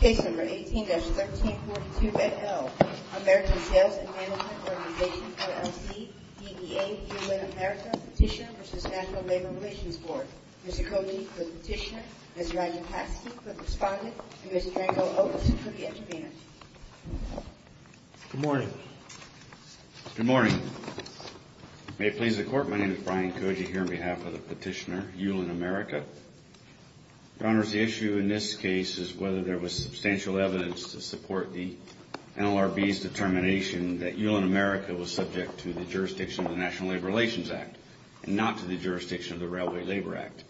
Case No. 18-1342 AL, American Sales & Management Organization LLC, DEA, ULIN America, Petitioner v. National Labor Relations Board, Mr. Koji for the Petitioner, Mr. Rajapaksa for the Respondent, and Mr. Dranko Otis for the Intervener. Good morning. Good morning. May it please the Court, my name is Brian Koji here on behalf of the Petitioner, ULIN America. Your Honors, the issue in this case is whether there was substantial evidence to support the NLRB's determination that ULIN America was subject to the jurisdiction of the National Labor Relations Act and not to the jurisdiction of the Railway Labor Act.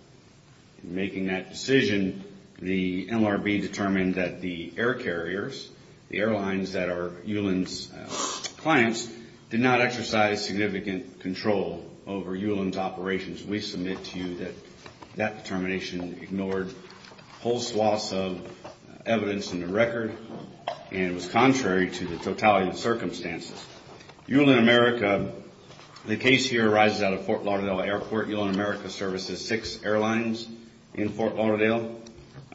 In making that decision, the NLRB determined that the air carriers, the airlines that are ULIN's clients, did not exercise significant control over ULIN's operations. We submit to you that that determination ignored a whole swath of evidence in the record and was contrary to the totality of the circumstances. ULIN America, the case here arises out of Fort Lauderdale Airport. ULIN America services six airlines in Fort Lauderdale.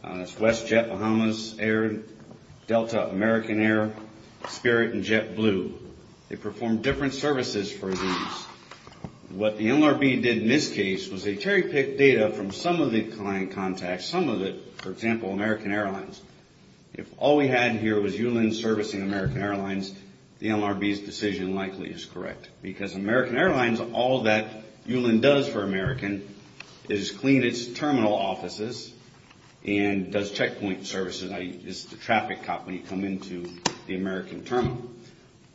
That's WestJet, Bahamas Air, Delta, American Air, Spirit, and JetBlue. They perform different services for these. What the NLRB did in this case was they cherry-picked data from some of the client contacts, some of it, for example, American Airlines. If all we had here was ULIN servicing American Airlines, the NLRB's decision likely is correct. Because American Airlines, all that ULIN does for American is clean its terminal offices and does checkpoint services. It's the traffic company come into the American terminal.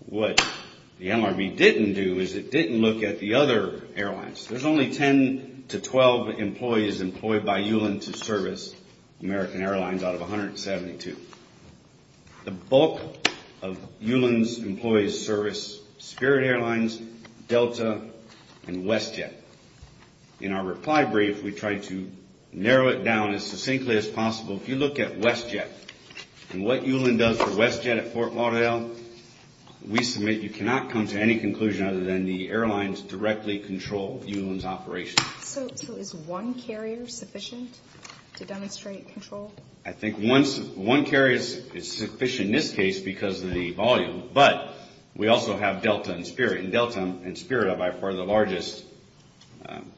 What the NLRB didn't do is it didn't look at the other airlines. There's only 10 to 12 employees employed by ULIN to service American Airlines out of 172. The bulk of ULIN's employees service Spirit Airlines, Delta, and WestJet. In our reply brief, we tried to narrow it down as succinctly as possible. If you look at WestJet and what ULIN does for WestJet at Fort Lauderdale, we submit you cannot come to any conclusion other than the airlines directly control. So is one carrier sufficient to demonstrate control? I think one carrier is sufficient in this case because of the volume, but we also have Delta and Spirit. And Delta and Spirit are by far the largest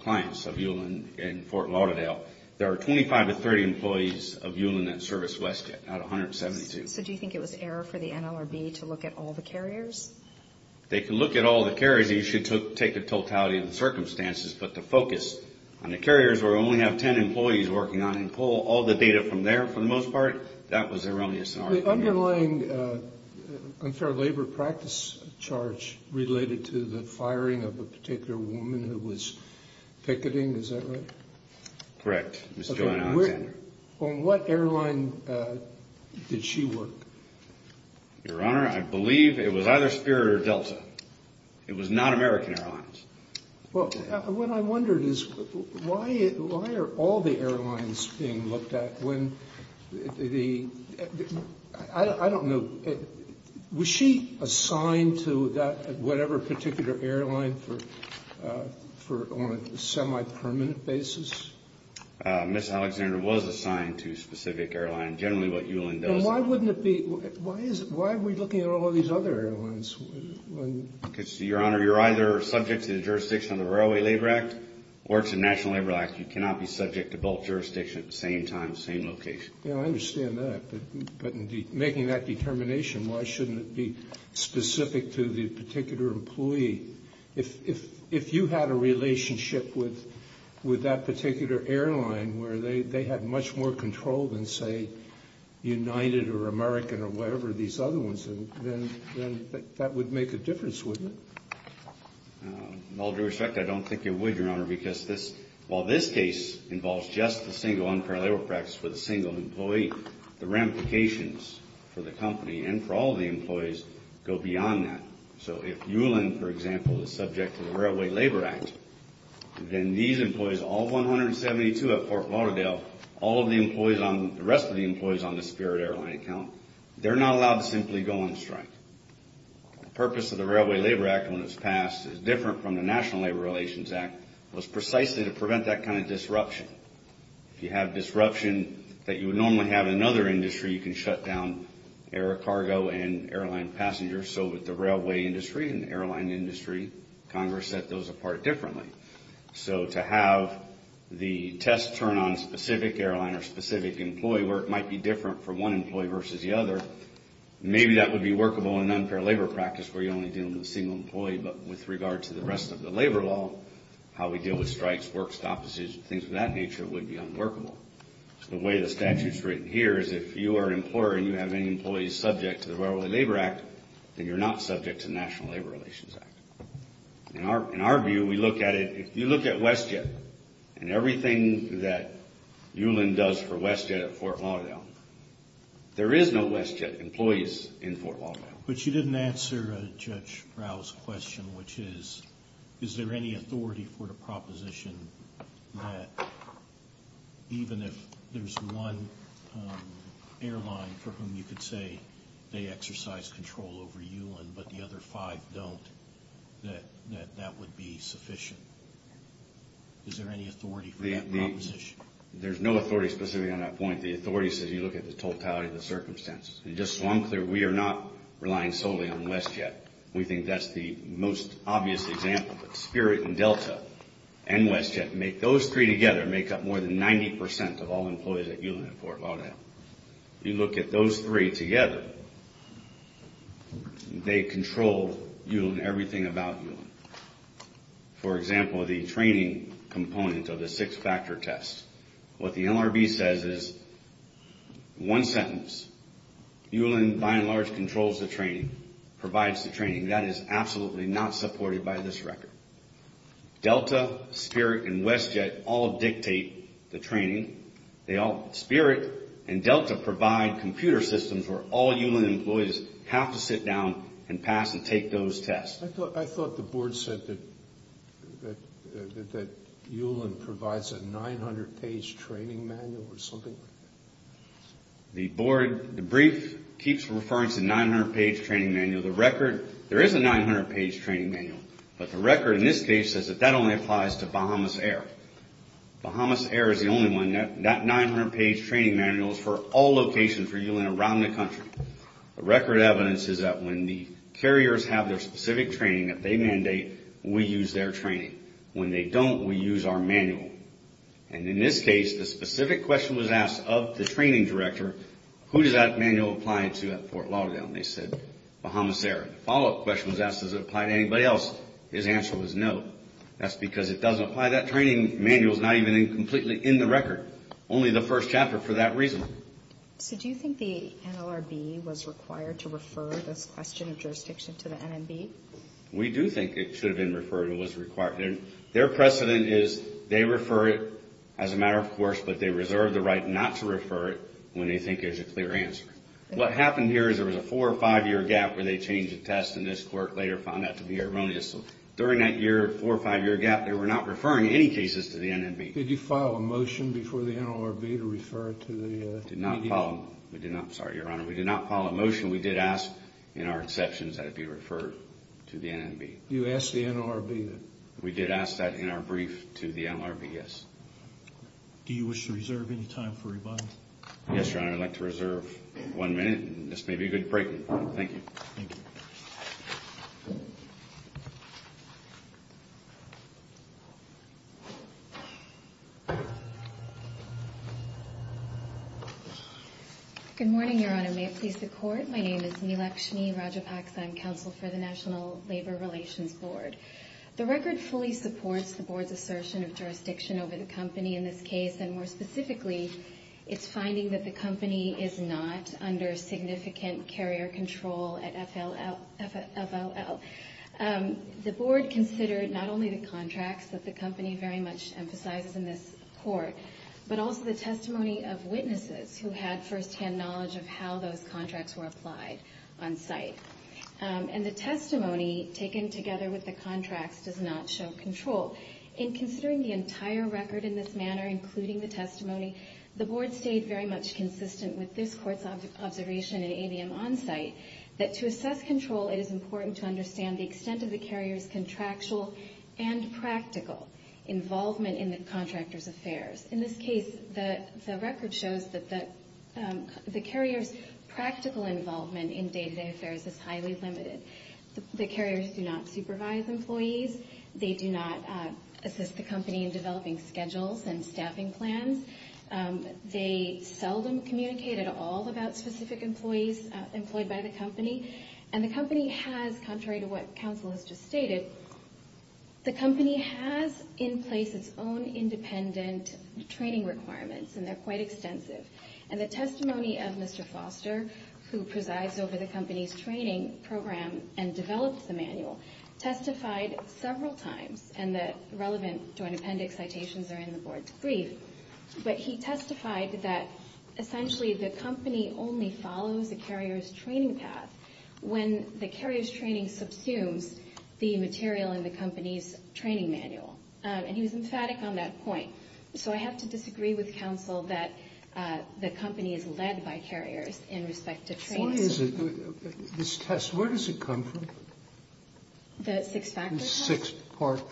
clients of ULIN in Fort Lauderdale. There are 25 to 30 employees of ULIN that service WestJet out of 172. So do you think it was error for the NLRB to look at all the carriers? They can look at all the carriers. You should take the totality of the circumstances. But to focus on the carriers where we only have 10 employees working on and pull all the data from there for the most part, that was erroneous. The underlying unfair labor practice charge related to the firing of a particular woman who was picketing, is that right? Correct, Ms. Joanna Alexander. On what airline did she work? Your Honor, I believe it was either Spirit or Delta. It was not American Airlines. Well, what I wondered is why are all the airlines being looked at? I don't know. Was she assigned to whatever particular airline on a semi-permanent basis? Ms. Alexander was assigned to a specific airline. Generally what ULIN does. Why wouldn't it be? Why is it? Why are we looking at all these other airlines? Because, Your Honor, you're either subject to the jurisdiction of the Railway Labor Act or it's a National Labor Act. You cannot be subject to both jurisdictions at the same time, same location. Yeah, I understand that. But making that determination, why shouldn't it be specific to the particular employee? If you had a relationship with that particular airline where they had much more control than, say, United or American or whatever, these other ones, then that would make a difference, wouldn't it? With all due respect, I don't think it would, Your Honor, because while this case involves just the single unfair labor practice with a single employee, the ramifications for the company and for all the employees go beyond that. So if ULIN, for example, is subject to the Railway Labor Act, then these employees, all 172 at Fort Lauderdale, all of the employees, the rest of the employees on the Spirit Airline account, they're not allowed to simply go on strike. The purpose of the Railway Labor Act when it was passed is different from the National Labor Relations Act, was precisely to prevent that kind of disruption. If you have disruption that you would normally have in another industry, you can shut down air cargo and airline passengers so that the railway industry and the airline industry, Congress set those apart differently. So to have the test turn on a specific airline or specific employee where it might be different for one employee versus the other, maybe that would be workable in an unfair labor practice where you're only dealing with a single employee, but with regard to the rest of the labor law, how we deal with strikes, work stop decisions, things of that nature would be unworkable. The way the statute's written here is if you are an employer and you have any employees subject to the Railway Labor Act, then you're not subject to the National Labor Relations Act. In our view, we look at it, if you look at WestJet and everything that ULIN does for WestJet at Fort Lauderdale, there is no WestJet employees in Fort Lauderdale. But you didn't answer Judge Rao's question, which is, is there any authority for the proposition that even if there's one airline for whom you could say they exercise control over ULIN but the other five don't, that that would be sufficient? Is there any authority for that proposition? There's no authority specifically on that point. The authority says you look at the totality of the circumstances. Just so I'm clear, we are not relying solely on WestJet. We think that's the most obvious example. Spirit and Delta and WestJet, those three together make up more than 90 percent of all employees at ULIN at Fort Lauderdale. You look at those three together, they control ULIN, everything about ULIN. For example, the training component of the six-factor test. What the NRB says is, in one sentence, ULIN by and large controls the training, provides the training. That is absolutely not supported by this record. Delta, Spirit, and WestJet all dictate the training. Spirit and Delta provide computer systems where all ULIN employees have to sit down and pass and take those tests. I thought the board said that ULIN provides a 900-page training manual or something like that. The board, the brief, keeps referring to 900-page training manual. The record, there is a 900-page training manual, but the record in this case says that that only applies to Bahamas Air. Bahamas Air is the only one. That 900-page training manual is for all locations for ULIN around the country. The record evidence is that when the carriers have their specific training that they mandate, we use their training. When they don't, we use our manual. In this case, the specific question was asked of the training director, who does that manual apply to at Fort Lauderdale? They said, Bahamas Air. The follow-up question was asked, does it apply to anybody else? His answer was no. That's because it doesn't apply. That training manual is not even completely in the record, only the first chapter for that reason. So do you think the NLRB was required to refer this question of jurisdiction to the NMB? We do think it should have been referred and was required. Their precedent is they refer it as a matter of course, but they reserve the right not to refer it when they think there's a clear answer. What happened here is there was a four- or five-year gap where they changed the test, and this court later found that to be erroneous. So during that year, four- or five-year gap, they were not referring any cases to the NMB. Did you file a motion before the NLRB to refer it to the NMB? We did not file a motion. We did ask in our exceptions that it be referred to the NMB. You asked the NLRB? We did ask that in our brief to the NLRB, yes. Do you wish to reserve any time for rebuttal? Yes, Your Honor. I'd like to reserve one minute, and this may be a good break. Thank you. Thank you. Good morning, Your Honor. May it please the Court. My name is Neelakshmi Rajapaksa. I'm counsel for the National Labor Relations Board. The record fully supports the Board's assertion of jurisdiction over the company in this case, and more specifically, it's finding that the company is not under significant carrier control at FLL. The Board considered not only the contracts that the company very much emphasizes in this court, but also the testimony of witnesses who had firsthand knowledge of how those contracts were applied on-site. And the testimony taken together with the contracts does not show control. In considering the entire record in this manner, including the testimony, the Board stayed very much consistent with this Court's observation in ABM on-site, that to assess control, it is important to understand the extent of the carrier's contractual and practical involvement in the contractor's affairs. In this case, the record shows that the carrier's practical involvement in day-to-day affairs is highly limited. The carriers do not supervise employees. They do not assist the company in developing schedules and staffing plans. They seldom communicate at all about specific employees employed by the company. And the company has, contrary to what counsel has just stated, the company has in place its own independent training requirements, and they're quite extensive. And the testimony of Mr. Foster, who presides over the company's training program and develops the manual, testified several times, and the relevant Joint Appendix citations are in the Board's brief, but he testified that essentially the company only follows a carrier's training path when the carrier's training subsumes the material in the company's training manual. And he was emphatic on that point. So I have to disagree with counsel that the company is led by carriers in respect to training. Why is it, this test, where does it come from? The six-factor test? The six-part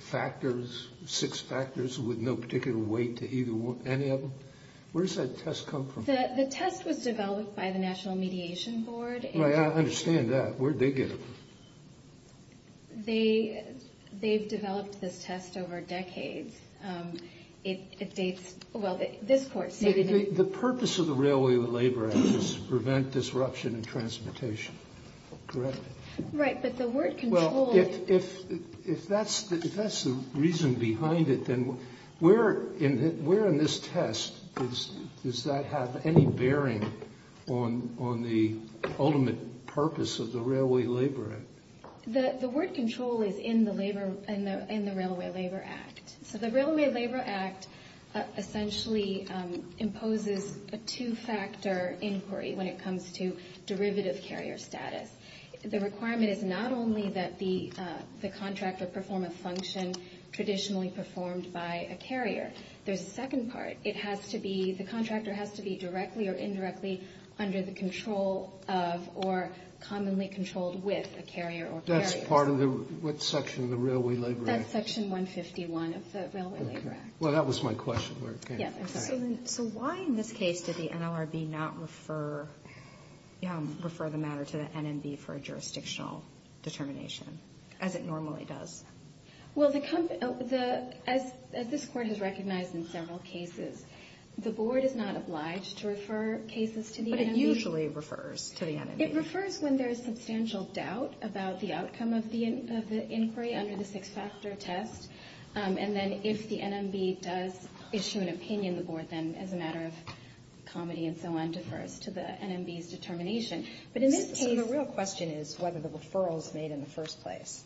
factors, six factors with no particular weight to any of them. Where does that test come from? The test was developed by the National Mediation Board. Right, I understand that. Where did they get it? They've developed this test over decades. It dates, well, this court stated that the purpose of the Railway Labor Act is to prevent disruption in transportation, correct? Right, but the word control. Well, if that's the reason behind it, then where in this test does that have any bearing on the ultimate purpose of the Railway Labor Act? The word control is in the Railway Labor Act. So the Railway Labor Act essentially imposes a two-factor inquiry when it comes to derivative carrier status. The requirement is not only that the contractor perform a function traditionally performed by a carrier. There's a second part. It has to be, the contractor has to be directly or indirectly under the control of or commonly controlled with a carrier or carriers. That's part of the, what section of the Railway Labor Act? That's Section 151 of the Railway Labor Act. Well, that was my question. So why in this case did the NLRB not refer the matter to the NMB for a jurisdictional determination as it normally does? Well, as this Court has recognized in several cases, the Board is not obliged to refer cases to the NMB. But it usually refers to the NMB. It refers when there is substantial doubt about the outcome of the inquiry under the six-factor test. And then if the NMB does issue an opinion, the Board then, as a matter of comedy and so on, defers to the NMB's determination. But in this case... So the real question is whether the referral is made in the first place.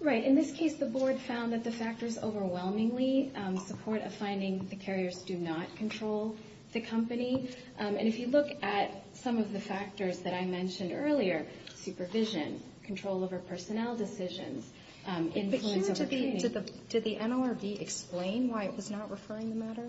Right. In this case, the Board found that the factors overwhelmingly support a finding that the carriers do not control the company. And if you look at some of the factors that I mentioned earlier, supervision, control over personnel decisions, influence over training... But here, did the NLRB explain why it was not referring the matter?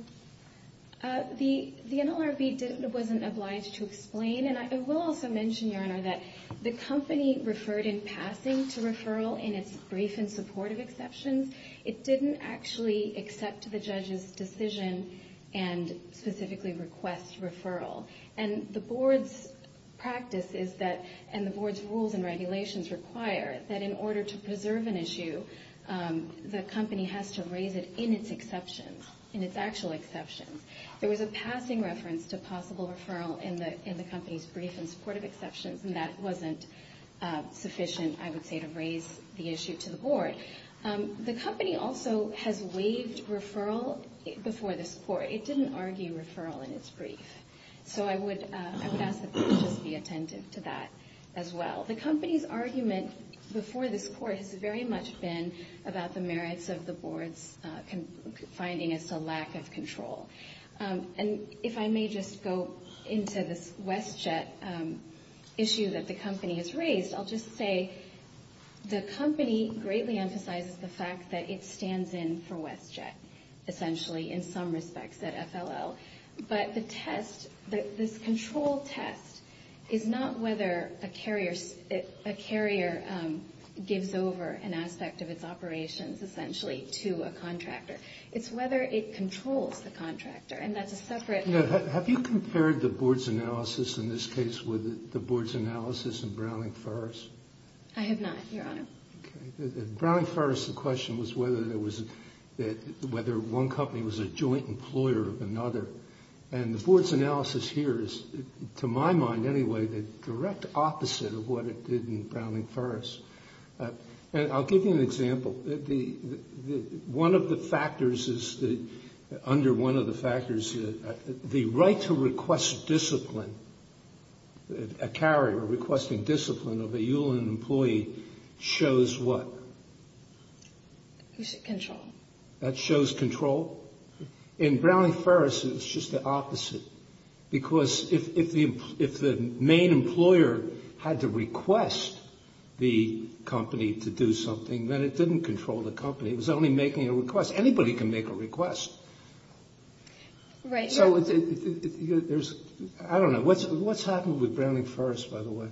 The NLRB wasn't obliged to explain. And I will also mention, Your Honor, that the company referred in passing to referral in its brief in support of exceptions. It didn't actually accept the judge's decision and specifically request referral. And the Board's practice is that... And the Board's rules and regulations require that in order to preserve an issue, the company has to raise it in its exceptions, in its actual exceptions. There was a passing reference to possible referral in the company's brief in support of exceptions, and that wasn't sufficient, I would say, to raise the issue to the Board. The company also has waived referral before this Court. It didn't argue referral in its brief. So I would ask that the judges be attentive to that as well. The company's argument before this Court has very much been about the merits of the Board's finding as to lack of control. And if I may just go into this WestJet issue that the company has raised, I'll just say the company greatly emphasizes the fact that it stands in for WestJet, essentially, in some respects, at FLL. But the test, this control test, is not whether a carrier gives over an aspect of its operations, essentially, to a contractor. It's whether it controls the contractor. And that's a separate... Have you compared the Board's analysis in this case with the Board's analysis in Browning-Ferris? I have not, Your Honor. Okay. At Browning-Ferris, the question was whether one company was a joint employer of another. And the Board's analysis here is, to my mind anyway, the direct opposite of what it did in Browning-Ferris. And I'll give you an example. One of the factors is, under one of the factors, the right to request discipline, a carrier requesting discipline of a ULIN employee shows what? Control. That shows control. In Browning-Ferris, it's just the opposite. Because if the main employer had to request the company to do something, then it didn't control the company. It was only making a request. Anybody can make a request. Right. So there's... I don't know. What's happened with Browning-Ferris, by the way?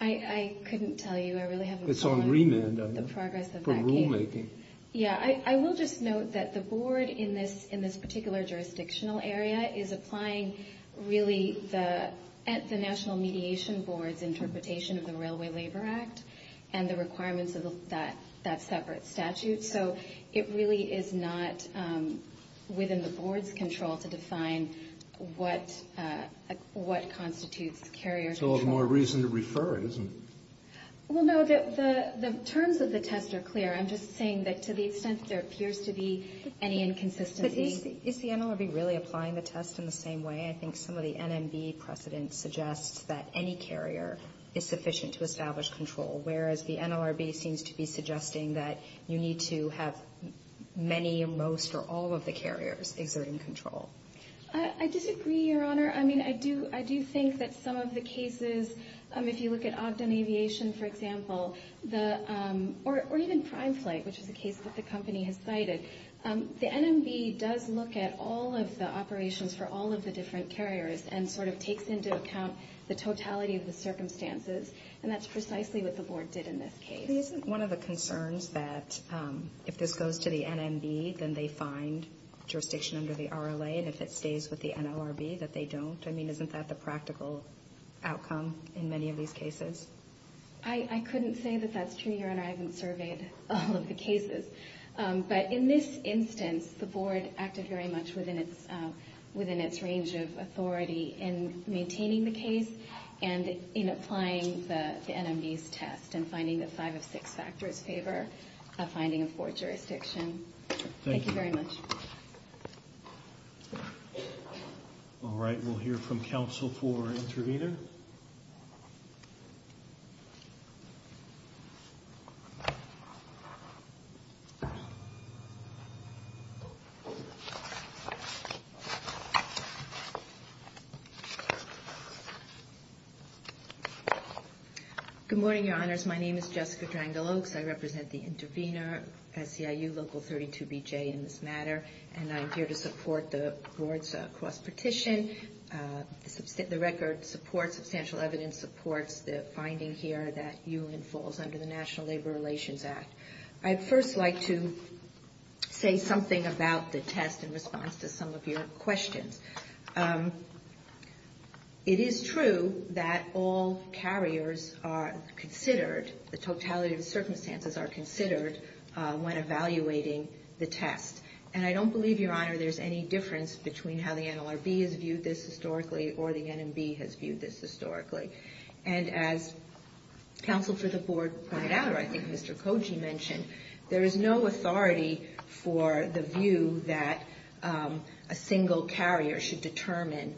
I couldn't tell you. I really haven't... It's on remand, I know. ...the progress of that case. From rulemaking. Yeah. I will just note that the Board, in this particular jurisdictional area, is applying, really, the National Mediation Board's interpretation of the Railway Labor Act and the requirements of that separate statute. So it really is not within the Board's control to define what constitutes carrier control. So there's more reason to refer it, isn't there? Well, no. The terms of the test are clear. I'm just saying that to the extent there appears to be any inconsistency... But is the NLRB really applying the test in the same way? I think some of the NMB precedent suggests that any carrier is sufficient to establish control, whereas the NLRB seems to be suggesting that you need to have many, most, or all of the carriers exerting control. I disagree, Your Honor. I mean, I do think that some of the cases, if you look at Ogden Aviation, for example, or even Prime Flight, which is a case that the company has cited, the sort of takes into account the totality of the circumstances, and that's precisely what the Board did in this case. Isn't one of the concerns that if this goes to the NMB, then they find jurisdiction under the RLA, and if it stays with the NLRB, that they don't? I mean, isn't that the practical outcome in many of these cases? I couldn't say that that's true, Your Honor. I haven't surveyed all of the cases. But in this instance, the Board acted very much within its range of authority in maintaining the case and in applying the NMB's test and finding that five of six factors favor a finding of poor jurisdiction. Thank you very much. Thank you. All right. We'll hear from counsel for intervener. Good morning, Your Honors. My name is Jessica Drangel-Oaks. I represent the intervener, SEIU Local 32BJ in this matter, and I'm here to support the Board's cross-petition. The record supports, substantial evidence supports the finding here that ULIN falls under the National Labor Relations Act. I'd first like to say something about the test in response to some of your questions. It is true that all carriers are considered, the totality of circumstances are considered when evaluating the test. And I don't believe, Your Honor, there's any difference between how the NLRB has And as counsel for the Board pointed out, or I think Mr. Koji mentioned, there is no authority for the view that a single carrier should determine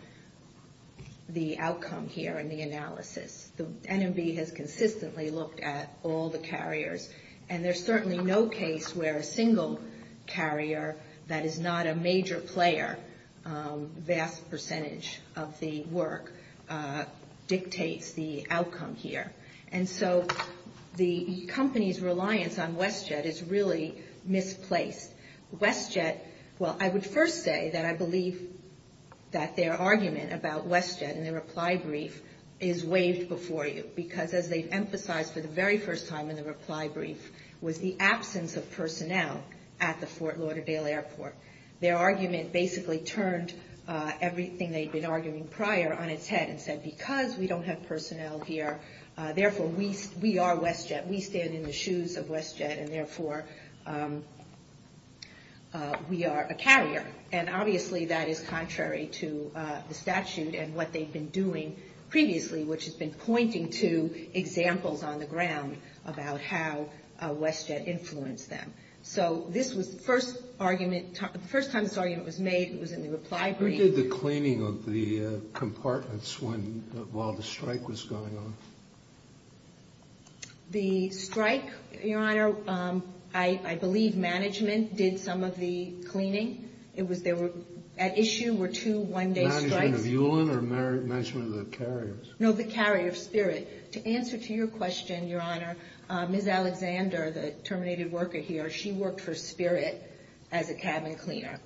the outcome here in the analysis. The NMB has consistently looked at all the carriers, and there's certainly no case where a single carrier that is not a major player, vast percentage of the dictates the outcome here. And so the company's reliance on WestJet is really misplaced. WestJet, well, I would first say that I believe that their argument about WestJet in the reply brief is waived before you, because as they've emphasized for the very first time in the reply brief was the absence of personnel at the Fort Lauderdale Airport. Their argument basically turned everything they'd been arguing prior on its head and said, because we don't have personnel here, therefore, we are WestJet. We stand in the shoes of WestJet, and therefore, we are a carrier. And obviously, that is contrary to the statute and what they've been doing previously, which has been pointing to examples on the ground about how WestJet influenced them. So this was the first time this argument was made. It was in the reply brief. Who did the cleaning of the compartments while the strike was going on? The strike, Your Honor, I believe management did some of the cleaning. At issue were two one-day strikes. Management of ULEN or management of the carriers? No, the carrier, Spirit. To answer to your question, Your Honor, Ms. Alexander, the terminated worker here, she worked for Spirit as a cabin cleaner.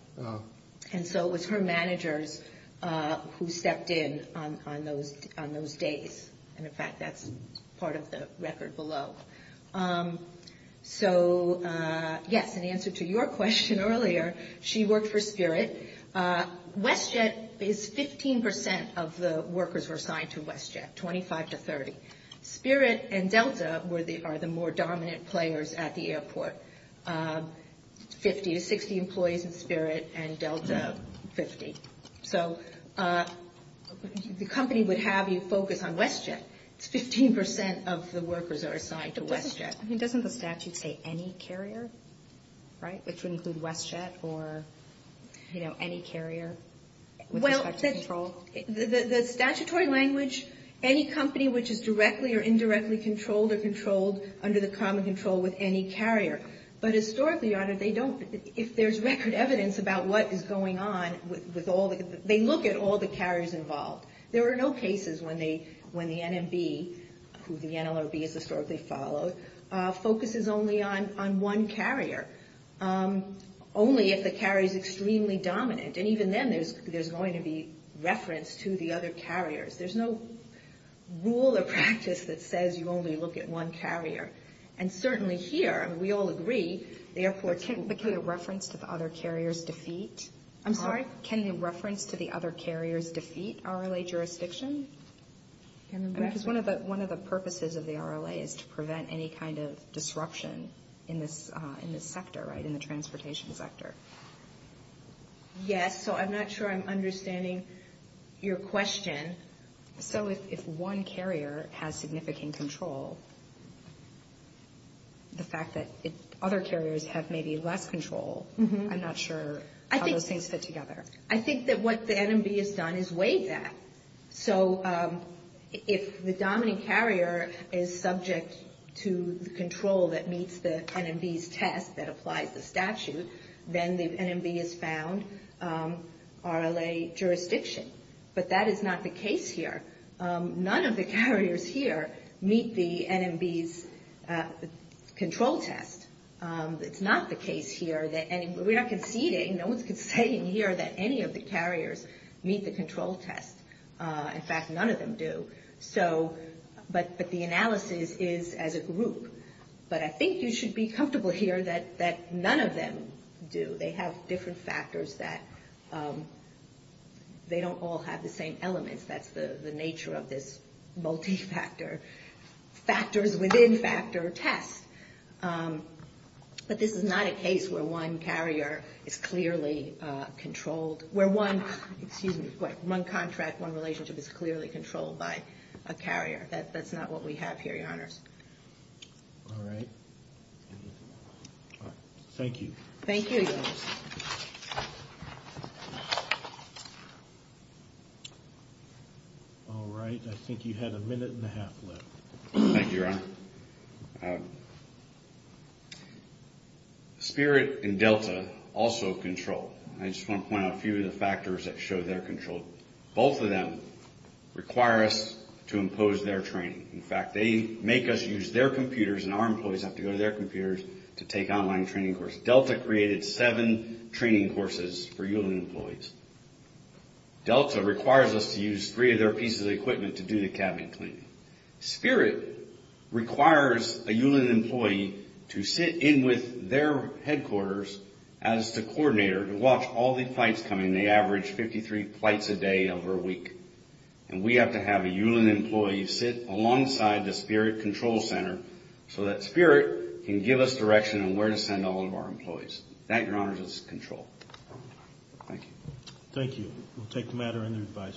And so it was her managers who stepped in on those days. And, in fact, that's part of the record below. So, yes, in answer to your question earlier, she worked for Spirit. WestJet is 15% of the workers were assigned to WestJet, 25 to 30. Spirit and Delta are the more dominant players at the airport. 50 to 60 employees in Spirit and Delta, 50. So the company would have you focus on WestJet. It's 15% of the workers are assigned to WestJet. I mean, doesn't the statute say any carrier, right, which would include WestJet or, you know, any carrier with respect to control? Well, the statutory language, any company which is directly or indirectly controlled or controlled under the common control with any carrier. But, historically, Your Honor, they don't, if there's record evidence about what is going on with all the, they look at all the carriers involved. There are no cases when the NMB, who the NLRB has historically followed, focuses only on one carrier, only if the carrier is extremely dominant. And even then there's going to be reference to the other carriers. There's no rule or practice that says you only look at one carrier. And certainly here, we all agree, the airport's... But can the reference to the other carriers defeat? I'm sorry? Can the reference to the other carriers defeat RLA jurisdiction? Because one of the purposes of the RLA is to prevent any kind of disruption in this sector, right, in the transportation sector. Yes. So I'm not sure I'm understanding your question. So if one carrier has significant control, the fact that other carriers have maybe less control, I'm not sure how those things fit together. I think that what the NMB has done is weighed that. So if the dominant carrier is subject to the control that meets the NMB's test that applies the statute, then the NMB has found RLA jurisdiction. But that is not the case here. None of the carriers here meet the NMB's control test. It's not the case here. We're not conceding, no one's conceding here that any of the carriers meet the control test. In fact, none of them do. But the analysis is as a group. But I think you should be comfortable here that none of them do. They have different factors that they don't all have the same elements. That's the nature of this multi-factor, factors within factor test. But this is not a case where one carrier is clearly controlled, where one contract, one relationship is clearly controlled by a carrier. That's not what we have here, Your Honors. All right. Thank you. Thank you, Your Honors. All right. I think you had a minute and a half left. Thank you, Your Honor. Spirit and Delta also control. I just want to point out a few of the factors that show they're controlled. Both of them require us to impose their training. In fact, they make us use their computers, and our employees have to go to their computers to take online training courses. Delta created seven training courses for ULIN employees. Delta requires us to use three of their pieces of equipment to do the cabinet cleaning. Spirit requires a ULIN employee to sit in with their headquarters as the coordinator to watch all the flights coming. They average 53 flights a day over a week. And we have to have a ULIN employee sit alongside the Spirit control center so that Spirit can give us direction on where to send all of our employees. That, Your Honors, is control. Thank you. Thank you. We'll take the matter under advice.